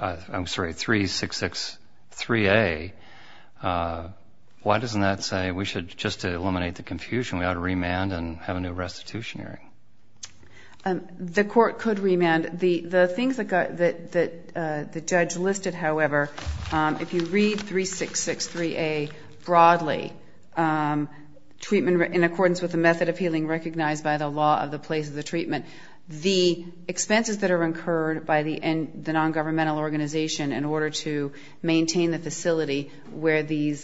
I'm sorry, 3663 A, why doesn't that say we should just eliminate the confusion? We ought to remand and have a new restitution hearing. The court could remand. The things that the judge listed, however, if you read 3663 A broadly, treatment in accordance with the method of healing recognized by the law of the place of the treatment, the expenses that are incurred by the nongovernmental organization in order to maintain the facility where the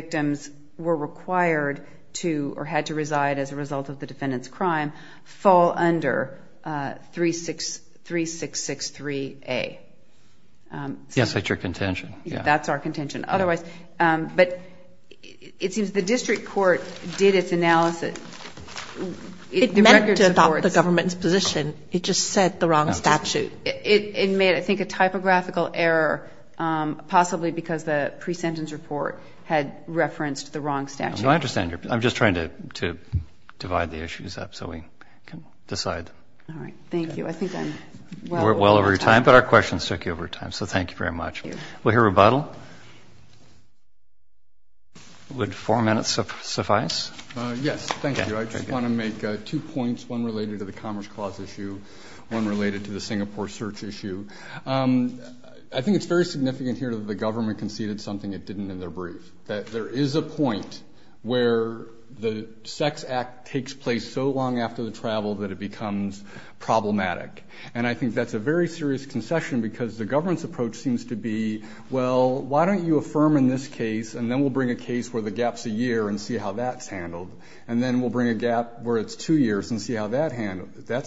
victims were required to or had to reside as a result of the defendant's crime fall under 3663 A. Yes, that's your contention. That's our contention. Otherwise, but it seems the district court did its analysis. It meant to adopt the government's position. It just said the wrong statute. It made, I think, a typographical error possibly because the pre-sentence report had referenced the wrong statute. I understand. I'm just trying to divide the issues up so we can decide. All right. I think I'm well over time. We're well over time, but our questions took you over time, so thank you very much. Thank you. We'll hear rebuttal. Would four minutes suffice? Yes. Thank you. I just want to make two points, one related to the Commerce Clause issue, one related to the Singapore search issue. I think it's very significant here that the government conceded something it didn't in their brief, that there is a point where the sex act takes place so long after the travel that it becomes problematic. And I think that's a very serious concession because the government's approach seems to be, well, why don't you affirm in this case and then we'll bring a case where the gap's a year and see how that's handled, and then we'll bring a gap where it's two years and see how that's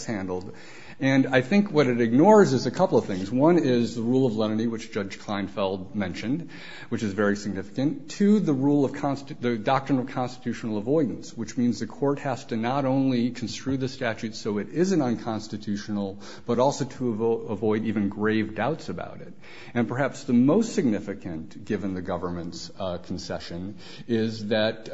handled. And I think what it ignores is a couple of things. One is the rule of lenity, which Judge Kleinfeld mentioned, which is very significant, to the doctrine of constitutional avoidance, which means the court has to not only construe the statute so it isn't unconstitutional, but also to avoid even grave doubts about it. And perhaps the most significant, given the government's concession, is that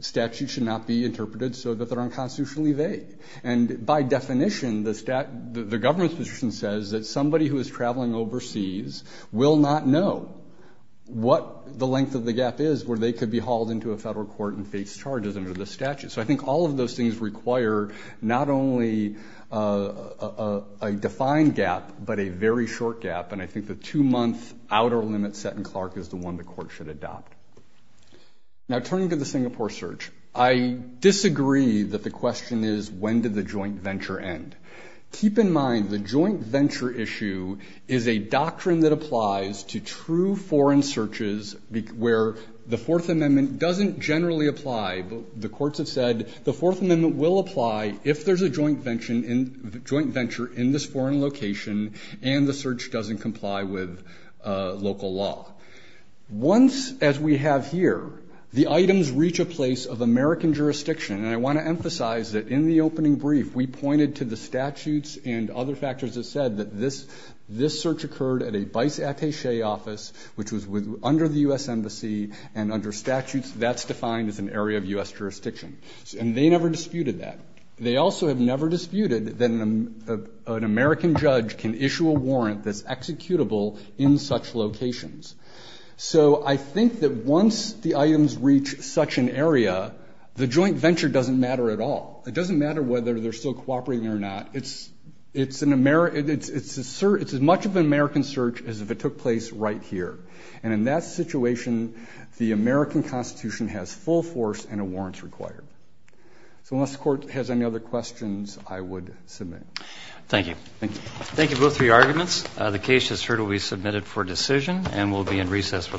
statutes should not be interpreted so that they're unconstitutionally vague. And by definition, the government's position says that somebody who is traveling overseas will not know what the length of the gap is where they could be hauled into a federal court and face charges under the statute. So I think all of those things require not only a defined gap but a very short gap, and I think the two-month outer limit set in Clark is the one the court should adopt. Now, turning to the Singapore search, I disagree that the question is when did the joint venture end. Keep in mind the joint venture issue is a doctrine that applies to true foreign searches where the Fourth Amendment doesn't generally apply. The courts have said the Fourth Amendment will apply if there's a joint venture in this foreign location and the search doesn't comply with local law. Once, as we have here, the items reach a place of American jurisdiction, and I want to emphasize that in the opening brief we pointed to the statutes and other factors that said that this search occurred at a vice attache office, which was under the U.S. Embassy, and under statutes that's defined as an area of U.S. jurisdiction. And they never disputed that. They also have never disputed that an American judge can issue a warrant that's executable in such locations. So I think that once the items reach such an area, the joint venture doesn't matter at all. It doesn't matter whether they're still cooperating or not. It's as much of an American search as if it took place right here, and in that situation the American Constitution has full force and a warrant's required. So unless the Court has any other questions, I would submit. Thank you. Thank you. Thank you, both, for your arguments. The case, as heard, will be submitted for decision and will be in recess for the morning. All rise.